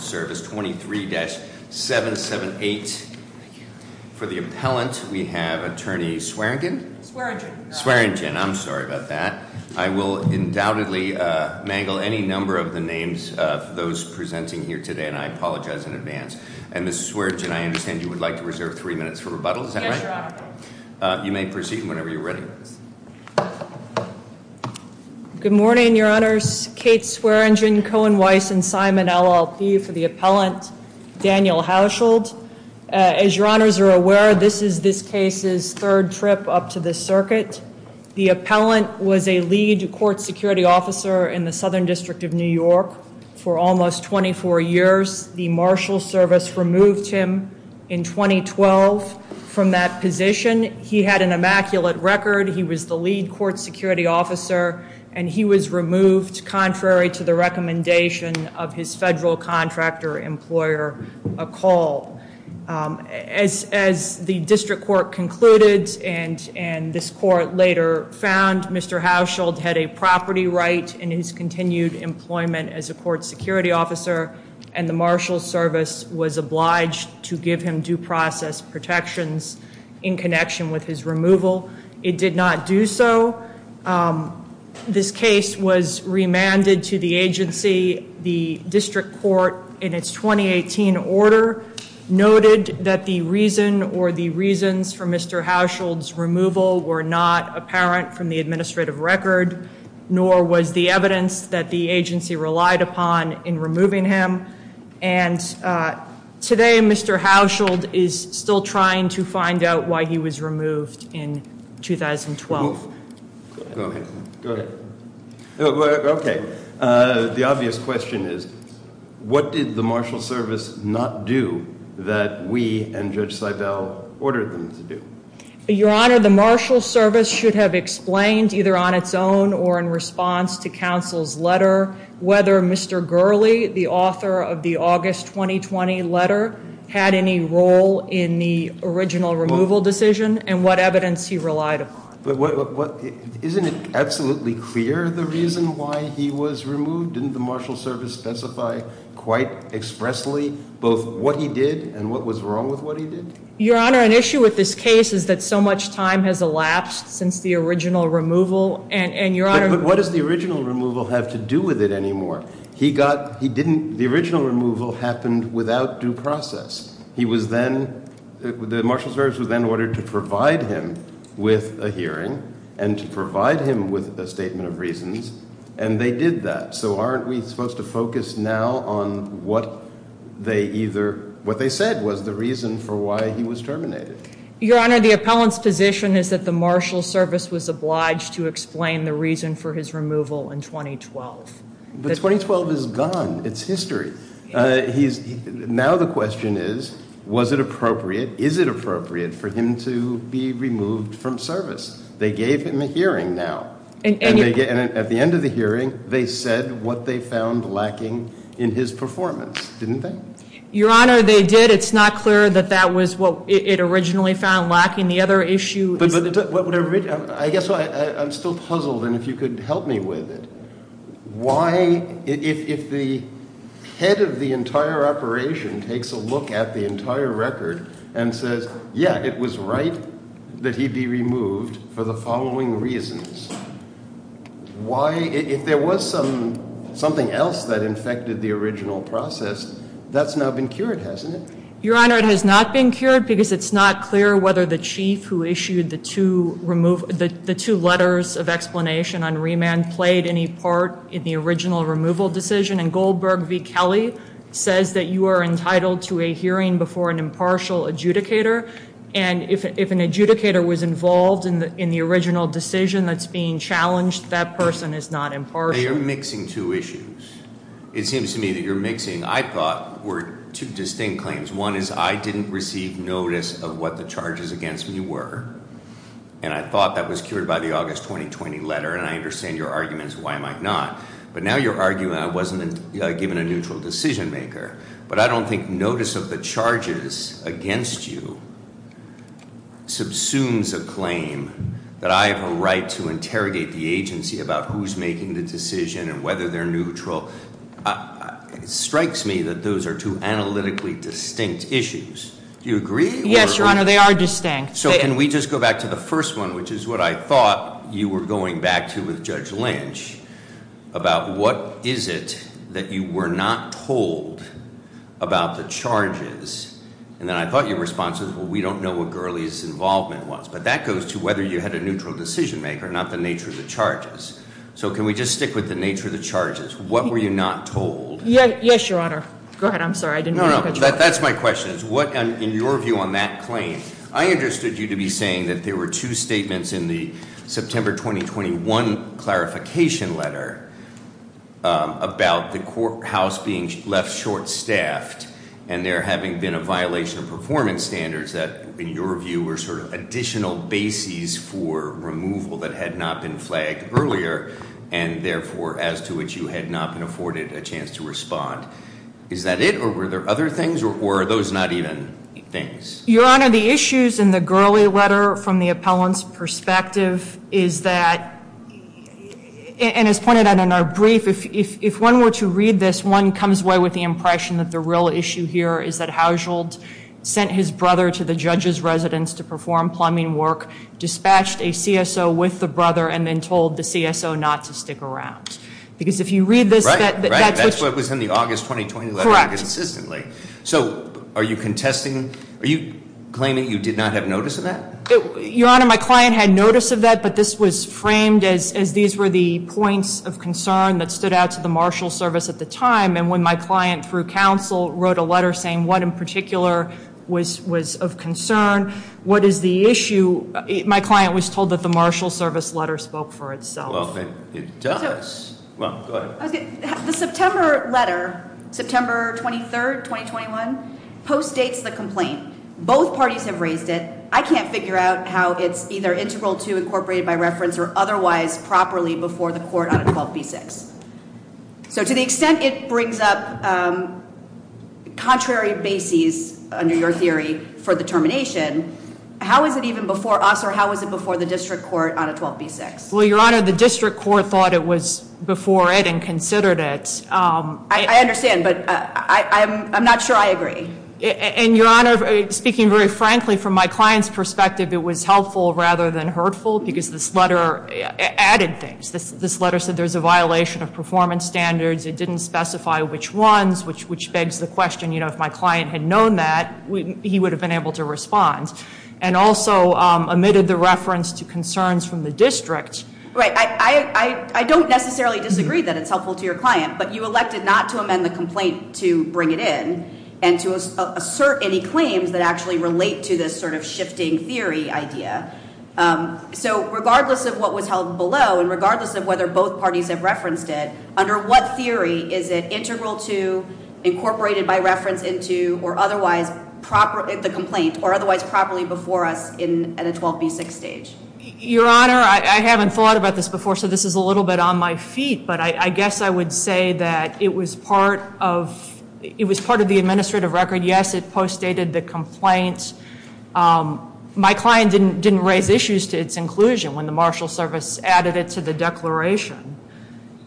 23-778. For the appellant, we have attorney Swearengin? Swearengin. I'm sorry about that. I will undoubtedly mangle any number of the names of those presenting here today and I apologize in advance. And Ms. Swearengin, I understand you would like to reserve three minutes for rebuttal, is that right? You may proceed whenever you're ready. Good morning, your honors. Kate Swearengin, Cohen Weiss, and Simon LLP for the appellant, Daniel Hauschild. As your honors are aware, this is this case's third trip up to the circuit. The appellant was a lead court security officer in the Southern District of New York for almost 24 years. The Marshals Service removed him in 2012 from that position. He had an immaculate record. He was the lead court security officer and he was removed contrary to the recommendation of his federal contractor employer, a call. As the district court concluded and this court later found, Mr. Hauschild had a property right in his continued employment as a court security officer and the Marshals Service was obliged to give him due process protections in connection with his removal. It did not do so. This case was remanded to the agency. The district court in its 2018 order noted that the reason or the reasons for Mr. Hauschild's removal were not apparent from the administrative record nor was the evidence that the agency relied upon in removing him and today Mr. Hauschild is still trying to find out why he was Okay, the obvious question is what did the Marshals Service not do that we and Judge Seibel ordered them to do? Your Honor, the Marshals Service should have explained either on its own or in response to counsel's letter whether Mr. Gurley, the author of the August 2020 letter, had any role in the original removal decision and what evidence he relied upon. Isn't it absolutely clear the reason why he was removed? Didn't the Marshals Service specify quite expressly both what he did and what was wrong with what he did? Your Honor, an issue with this case is that so much time has elapsed since the original removal and your honor... But what does the original removal have to do with it anymore? He got, he didn't, the original removal happened without due process. He was then, the Marshals Service was then ordered to provide him with a hearing and to provide him with a statement of reasons and they did that. So aren't we supposed to focus now on what they either, what they said was the reason for why he was terminated? Your Honor, the appellant's position is that the Marshals Service was obliged to explain the reason for his removal in 2012. But 2012 is gone. It's history. He's, now the question is was it appropriate, is it gave him a hearing now? And at the end of the hearing, they said what they found lacking in his performance, didn't they? Your Honor, they did. It's not clear that that was what it originally found lacking. The other issue... I guess I'm still puzzled and if you could help me with it. Why, if the head of the entire operation takes a look at the entire record and says, yeah, it was right that he be removed for the following reasons. Why, if there was some, something else that infected the original process, that's now been cured, hasn't it? Your Honor, it has not been cured because it's not clear whether the chief who issued the two remove, the two letters of explanation on remand played any part in the original removal decision and Goldberg v. Kelly says that you are entitled to a hearing before an impartial adjudicator and if an adjudicator was involved in the original decision that's being challenged, that person is not impartial. You're mixing two issues. It seems to me that you're mixing, I thought, were two distinct claims. One is I didn't receive notice of what the charges against me were and I thought that was cured by the August 2020 letter and I understand your arguments why I might not, but now you're arguing I wasn't given a neutral decision-maker, but I don't think notice of the charges against you subsumes a claim that I have a right to interrogate the agency about who's making the decision and whether they're neutral. It strikes me that those are two analytically distinct issues. Do you agree? Yes, Your Honor, they are distinct. So can we just go back to the first one, which is what I thought you were going back to with Judge Lynch, about what is it that you were not told about the charges? And then I thought your response was, well, we don't know what Gurley's involvement was, but that goes to whether you had a neutral decision-maker, not the nature of the charges. So can we just stick with the nature of the charges? What were you not told? Yes, Your Honor. Go ahead. I'm sorry. I didn't know. That's my question is what in your view on that claim, I understood you to be saying that there were two statements in the September 2021 clarification letter about the courthouse being left short-staffed and there having been a violation of performance standards that, in your view, were sort of additional bases for removal that had not been flagged earlier and therefore as to which you had not been afforded a chance to respond. Is that it or were there other things or were those not even things? Your Honor, the issues in the Gurley letter from the appellant's perspective is that, and as pointed out in our brief, if one were to read this, one comes away with the impression that the real issue here is that Hauschildt sent his brother to the judge's residence to perform plumbing work, dispatched a CSO with the brother, and then told the CSO not to stick around. Because if you read this, that's what was in the August 2021 letter consistently. So are you contesting, are you claiming you did not have notice of that? Your Honor, my client had notice of that, but this was framed as these were the points of concern that stood out to the Marshal Service at the time. And when my client, through counsel, wrote a letter saying what in particular was of concern, what is the issue, my client was told that the Marshal Service letter spoke for itself. Well, it does. The September letter, September 23rd, 2021, postdates the complaint. Both parties have raised it. I can't figure out how it's either integral to, incorporated by reference, or otherwise properly before the court on a 12b-6. So to the extent it brings up contrary bases, under your theory, for the termination, how is it even before us or how was it before the district court on a 12b-6? Well, Your Honor, the district court thought it was before it and considered it. I understand, but I'm speaking very frankly from my client's perspective, it was helpful rather than hurtful because this letter added things. This letter said there's a violation of performance standards. It didn't specify which ones, which begs the question, you know, if my client had known that, he would have been able to respond. And also omitted the reference to concerns from the district. Right, I don't necessarily disagree that it's helpful to your client, but you elected not to amend the complaint to bring it in and to assert any claims that actually relate to this sort of shifting theory idea. So regardless of what was held below and regardless of whether both parties have referenced it, under what theory is it integral to, incorporated by reference into, or otherwise the complaint, or otherwise properly before us at a 12b-6 stage? Your Honor, I haven't thought about this before, so this is a little bit on my feet, but I guess I would say that it was part of the administrative record. Yes, it postdated the complaint. My client didn't raise issues to its inclusion when the Marshal Service added it to the declaration.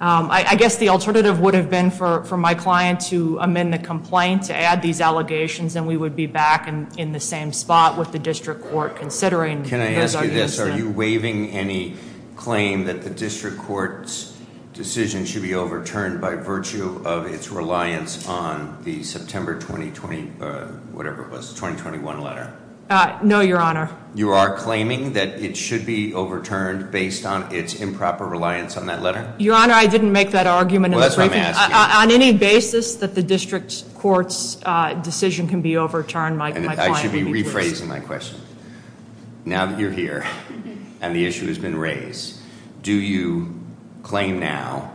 I guess the alternative would have been for my client to amend the complaint, to add these allegations, and we would be back in the same spot with the district court considering. Can I ask you this, are you waiving any claim that the district court's decision should be overturned by virtue of its September 2020, whatever it was, 2021 letter? No, Your Honor. You are claiming that it should be overturned based on its improper reliance on that letter? Your Honor, I didn't make that argument. Well, that's what I'm asking. On any basis that the district court's decision can be overturned, my client would be pleased. I should be rephrasing my question. Now that you're here, and the issue has been raised, do you claim now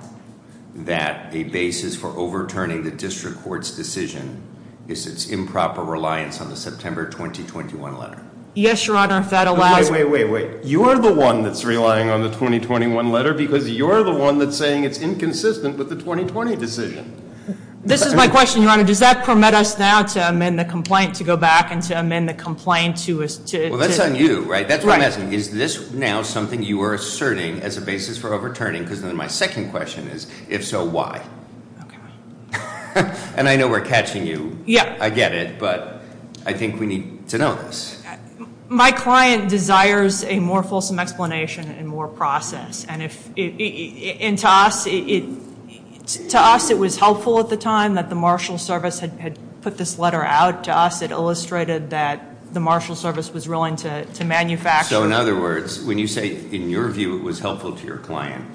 that a basis for overturning the district court's decision is its improper reliance on the September 2021 letter? Yes, Your Honor, if that allows... Wait, wait, wait, wait. You're the one that's relying on the 2021 letter because you're the one that's saying it's inconsistent with the 2020 decision. This is my question, Your Honor. Does that permit us now to amend the complaint to go back and to amend the complaint to... Well, that's on you, right? That's what I'm asking. Is this now something you are asserting as a basis for overturning? Because then my second question is, if so, why? Okay. And I know we're catching you. Yeah. I get it, but I think we need to know this. My client desires a more fulsome explanation and more process. And to us, it was helpful at the time that the Marshals Service had put this letter out. To us, it illustrated that the Marshals Service was willing to manufacture... So in other words, when you say, in your view, it was helpful to your client,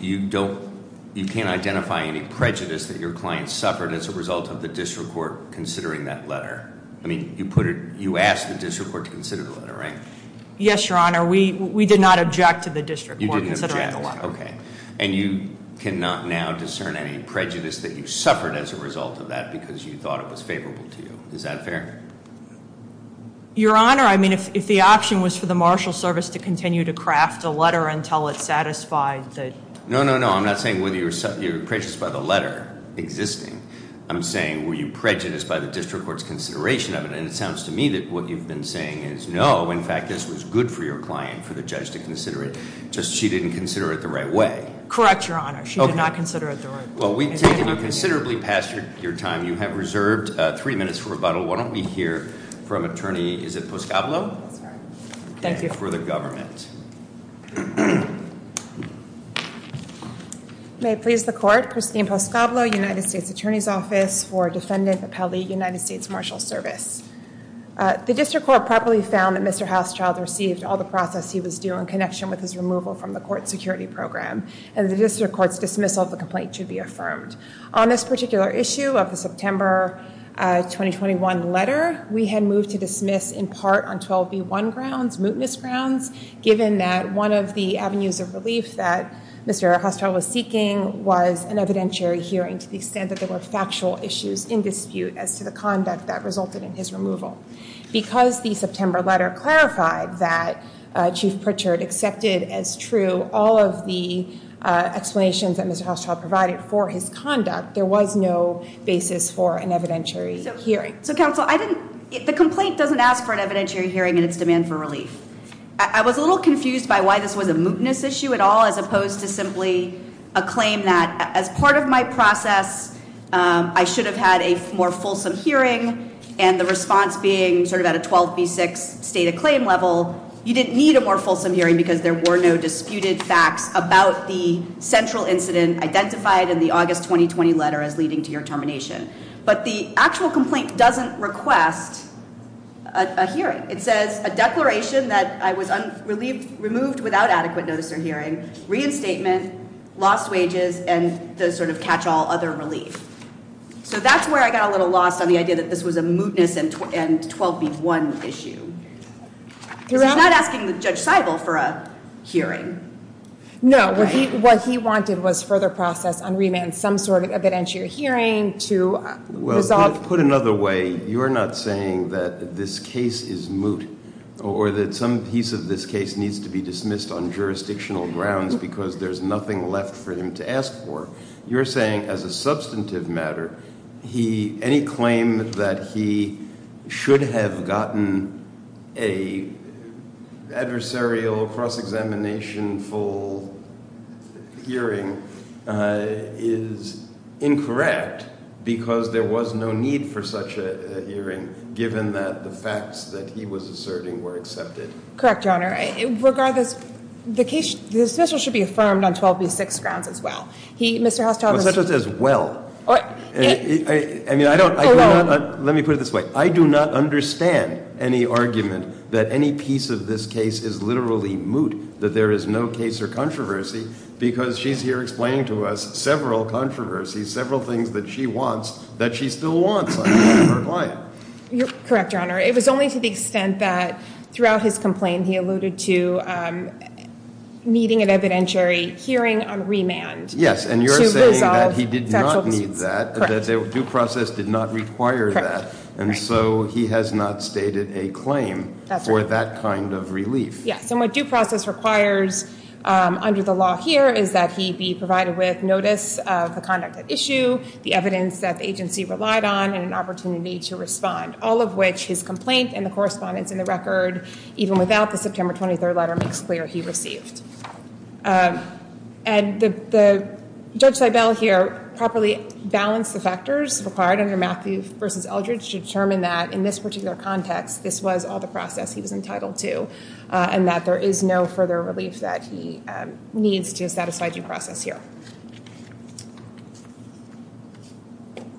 you can't identify any prejudice that your client suffered as a result of the district court considering that letter. I mean, you asked the district court to consider the letter, right? Yes, Your Honor. We did not object to the district court considering the letter. Okay. And you cannot now discern any prejudice that you suffered as a result of that because you thought it was favorable to you. Is that fair? Your letter until it satisfied the... No, no, no. I'm not saying whether you're prejudiced by the letter existing. I'm saying, were you prejudiced by the district court's consideration of it? And it sounds to me that what you've been saying is, no. In fact, this was good for your client, for the judge to consider it. Just she didn't consider it the right way. Correct, Your Honor. She did not consider it the right way. Well, we've taken you considerably past your time. You have reserved three minutes for rebuttal. Why don't we hear from Attorney... Is it okay? May it please the court. Christine Poscoblo, United States Attorney's Office for Defendant Appellee, United States Martial Service. The district court properly found that Mr. Hauschildt received all the process he was due in connection with his removal from the court security program. And the district court's dismissal of the complaint should be affirmed. On this particular issue of the September 2021 letter, we had moved to dismiss in part on 12B1 grounds, mootness grounds, given that one of the avenues of relief that Mr. Hauschildt was seeking was an evidentiary hearing to the extent that there were factual issues in dispute as to the conduct that resulted in his removal. Because the September letter clarified that Chief Pritchard accepted as true all of the explanations that Mr. Hauschildt provided for his conduct, there was no basis for an evidentiary hearing. So, counsel, I didn't... The I was a little confused by why this was a mootness issue at all as opposed to simply a claim that as part of my process, I should have had a more fulsome hearing and the response being sort of at a 12B6 state of claim level, you didn't need a more fulsome hearing because there were no disputed facts about the central incident identified in the August 2020 letter as leading to your termination. But the actual complaint doesn't request a hearing. It says a declaration that I was removed without adequate notice or hearing, reinstatement, lost wages, and the sort of catch-all other relief. So that's where I got a little lost on the idea that this was a mootness and 12B1 issue. You're not asking the Judge Seibel for a hearing. No, what he wanted was further process on remand, some sort of evidentiary hearing to resolve... Put another way, you're not saying that this case is moot or that some piece of this case needs to be dismissed on jurisdictional grounds because there's nothing left for him to ask for. You're saying as a substantive matter, any claim that he should have gotten a adversarial cross-examination hearing is incorrect because there was no need for such a hearing given that the facts that he was asserting were accepted. Correct, Your Honor. Regardless, the case should be affirmed on 12B6 grounds as well. He, Mr. Hostow, Well, let me put it this way. I do not understand any argument that any piece of this case is literally moot, that there is no case or controversy because she's here explaining to us several controversies, several things that she wants that she still wants on behalf of her client. You're correct, Your Honor. It was only to the extent that throughout his complaint he alluded to needing an evidentiary hearing on remand. Yes, and you're saying that he did not need that, that due process did not provide that kind of relief. Yes, and what due process requires under the law here is that he be provided with notice of the conduct at issue, the evidence that the agency relied on, and an opportunity to respond, all of which his complaint and the correspondence in the record, even without the September 23rd letter, makes clear he received. And the Judge Seibel here properly balanced the factors required under Matthew versus Eldridge to determine that in this particular context this was all the two, and that there is no further relief that he needs to satisfy due process here.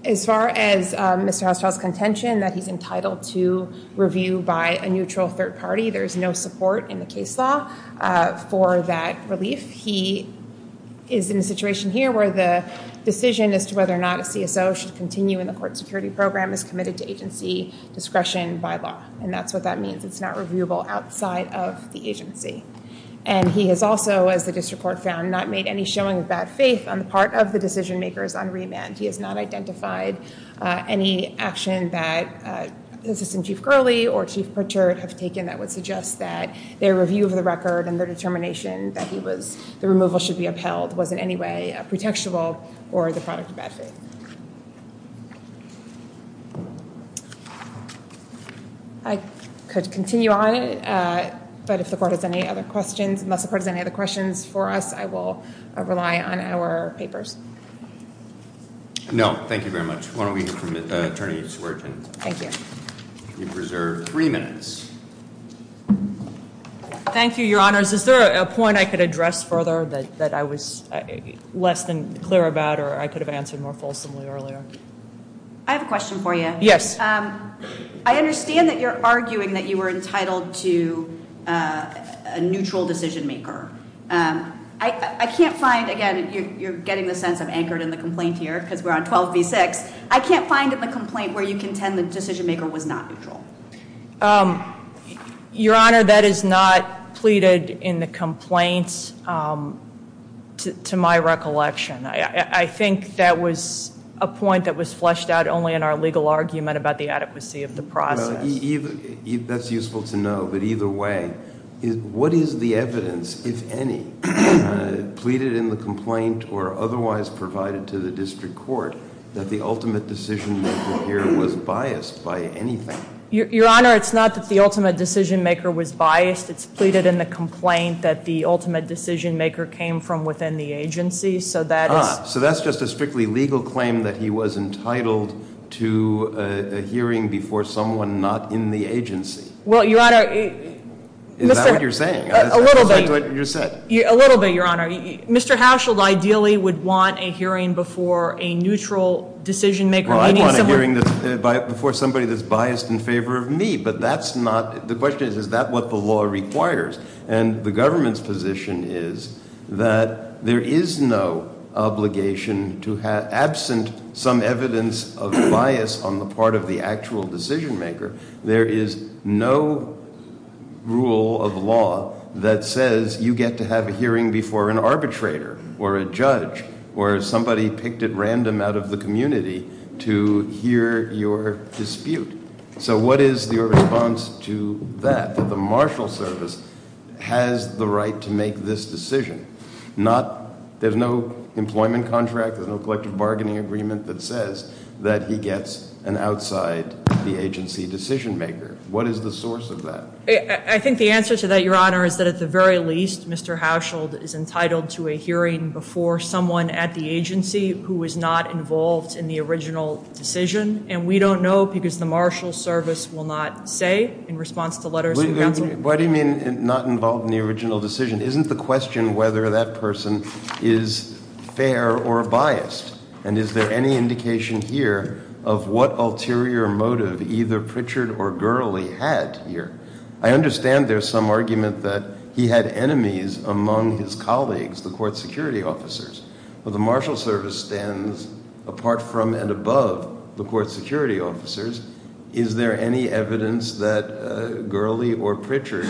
As far as Mr. Hostow's contention that he's entitled to review by a neutral third party, there's no support in the case law for that relief. He is in a situation here where the decision as to whether or not a CSO should continue in the court security program is committed to agency discretion by law, and that's what that means. It's not reviewable outside of the agency. And he has also, as the district court found, not made any showing of bad faith on the part of the decision-makers on remand. He has not identified any action that Assistant Chief Gurley or Chief Pritchard have taken that would suggest that their review of the record and their determination that he was, the removal should be upheld, was in any way a pretextual or the product of bad faith. I could continue on, but if the court has any other questions, unless the court has any other questions for us, I will rely on our papers. No, thank you very much. Why don't we hear from Attorney Swerden. Thank you. You've reserved three minutes. Thank you, Your Honors. Is there a point I could address further that I was less than clear about, or I could have answered more possibly earlier? I have a question for you. Yes. I understand that you're arguing that you were entitled to a neutral decision-maker. I can't find, again, you're getting the sense I'm anchored in the complaint here, because we're on 12 v. 6. I can't find in the complaint where you contend the decision-maker was not neutral. Your Honor, that is not pleaded in the complaint, to my recollection. I think that was a point that was fleshed out only in our legal argument about the adequacy of the process. That's useful to know, but either way, what is the evidence, if any, pleaded in the complaint or otherwise provided to the district court that the ultimate decision-maker here was biased by anything? Your Honor, it's not that the ultimate decision-maker was biased. It's pleaded in the complaint that the ultimate decision-maker came from within the agency. So that's just a strictly legal claim that he was entitled to a hearing before someone not in the agency. Well, Your Honor – Is that what you're saying? A little bit, Your Honor. Mr. Hauschild ideally would want a hearing before a neutral decision-maker. Well, I'd want a hearing before somebody that's biased in favor of me, but that's not – the question is, is that what the law requires? And the government's position is that there is no obligation to – absent some evidence of bias on the part of the actual decision-maker, there is no rule of law that says you get to have a hearing before an arbitrator or a judge or somebody picked at random out of the community to hear your dispute. So what is your response to that, that the marshal service has the right to make this decision? Not – there's no employment contract, there's no collective bargaining agreement that says that he gets an outside-the-agency decision-maker. What is the source of that? I think the answer to that, Your Honor, is that at the very least, Mr. Hauschild is entitled to a hearing before someone at the agency who was not involved in the original decision, and we don't know because the marshal service will not say in response to letters from counsel. Why do you mean not involved in the original decision? Isn't the question whether that person is fair or biased, and is there any indication here of what ulterior motive either Pritchard or Gurley had here? I understand there's some argument that he had enemies among his colleagues, the court security officers. Well, the marshal service stands apart from and above the court security officers. Is there any evidence that Gurley or Pritchard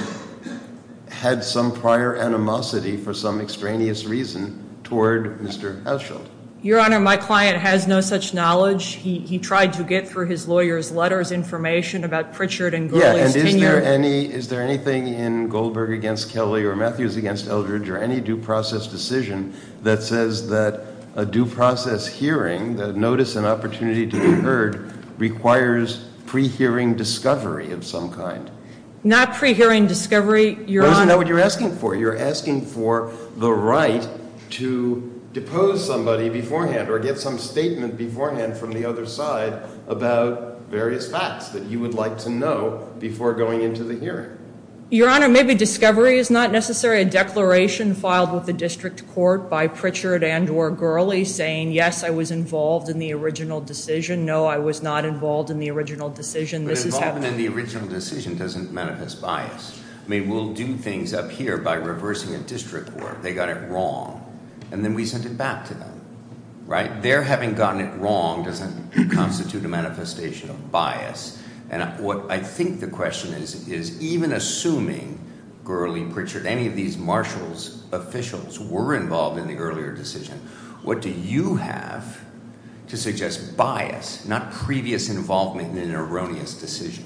had some prior animosity for some extraneous reason toward Mr. Hauschild? Your Honor, my client has no such knowledge. He tried to get through his lawyer's letters information about Pritchard and Gurley's tenure. Is there anything in Goldberg v. Kelly or Matthews v. Eldridge or any due process decision that says that a due process hearing, the notice and opportunity to be heard, requires pre-hearing discovery of some kind? Not pre-hearing discovery, Your Honor. Your Honor, maybe discovery is not necessary. A declaration filed with the district court by Pritchard and or Gurley saying, yes, I was involved in the original decision. No, I was not involved in the original decision. But involvement in the original decision doesn't manifest bias. I mean, we'll do things up here by reversing a district court. They got it wrong, and then we send it back to them, right? Their having gotten it wrong doesn't constitute a manifestation of bias. And what I think the question is, is even assuming Gurley, Pritchard, any of these marshals, officials, were involved in the earlier decision, what do you have to suggest bias, not previous involvement in an erroneous decision?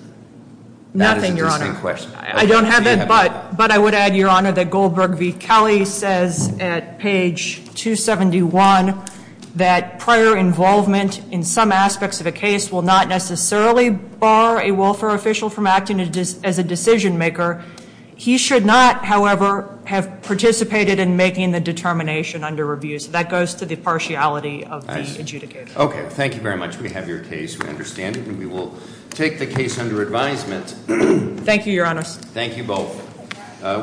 Nothing, Your Honor. That is an interesting question. I don't have it, but I would add, Your Honor, that Goldberg v. Kelly says at page 271 that prior involvement in some aspects of a case will not necessarily bar a welfare official from acting as a decision maker. He should not, however, have participated in making the determination under review. So that goes to the partiality of the adjudicator. Okay, thank you very much. We have your case. We understand it, and we will take the case under advisement. Thank you, Your Honor. Thank you both.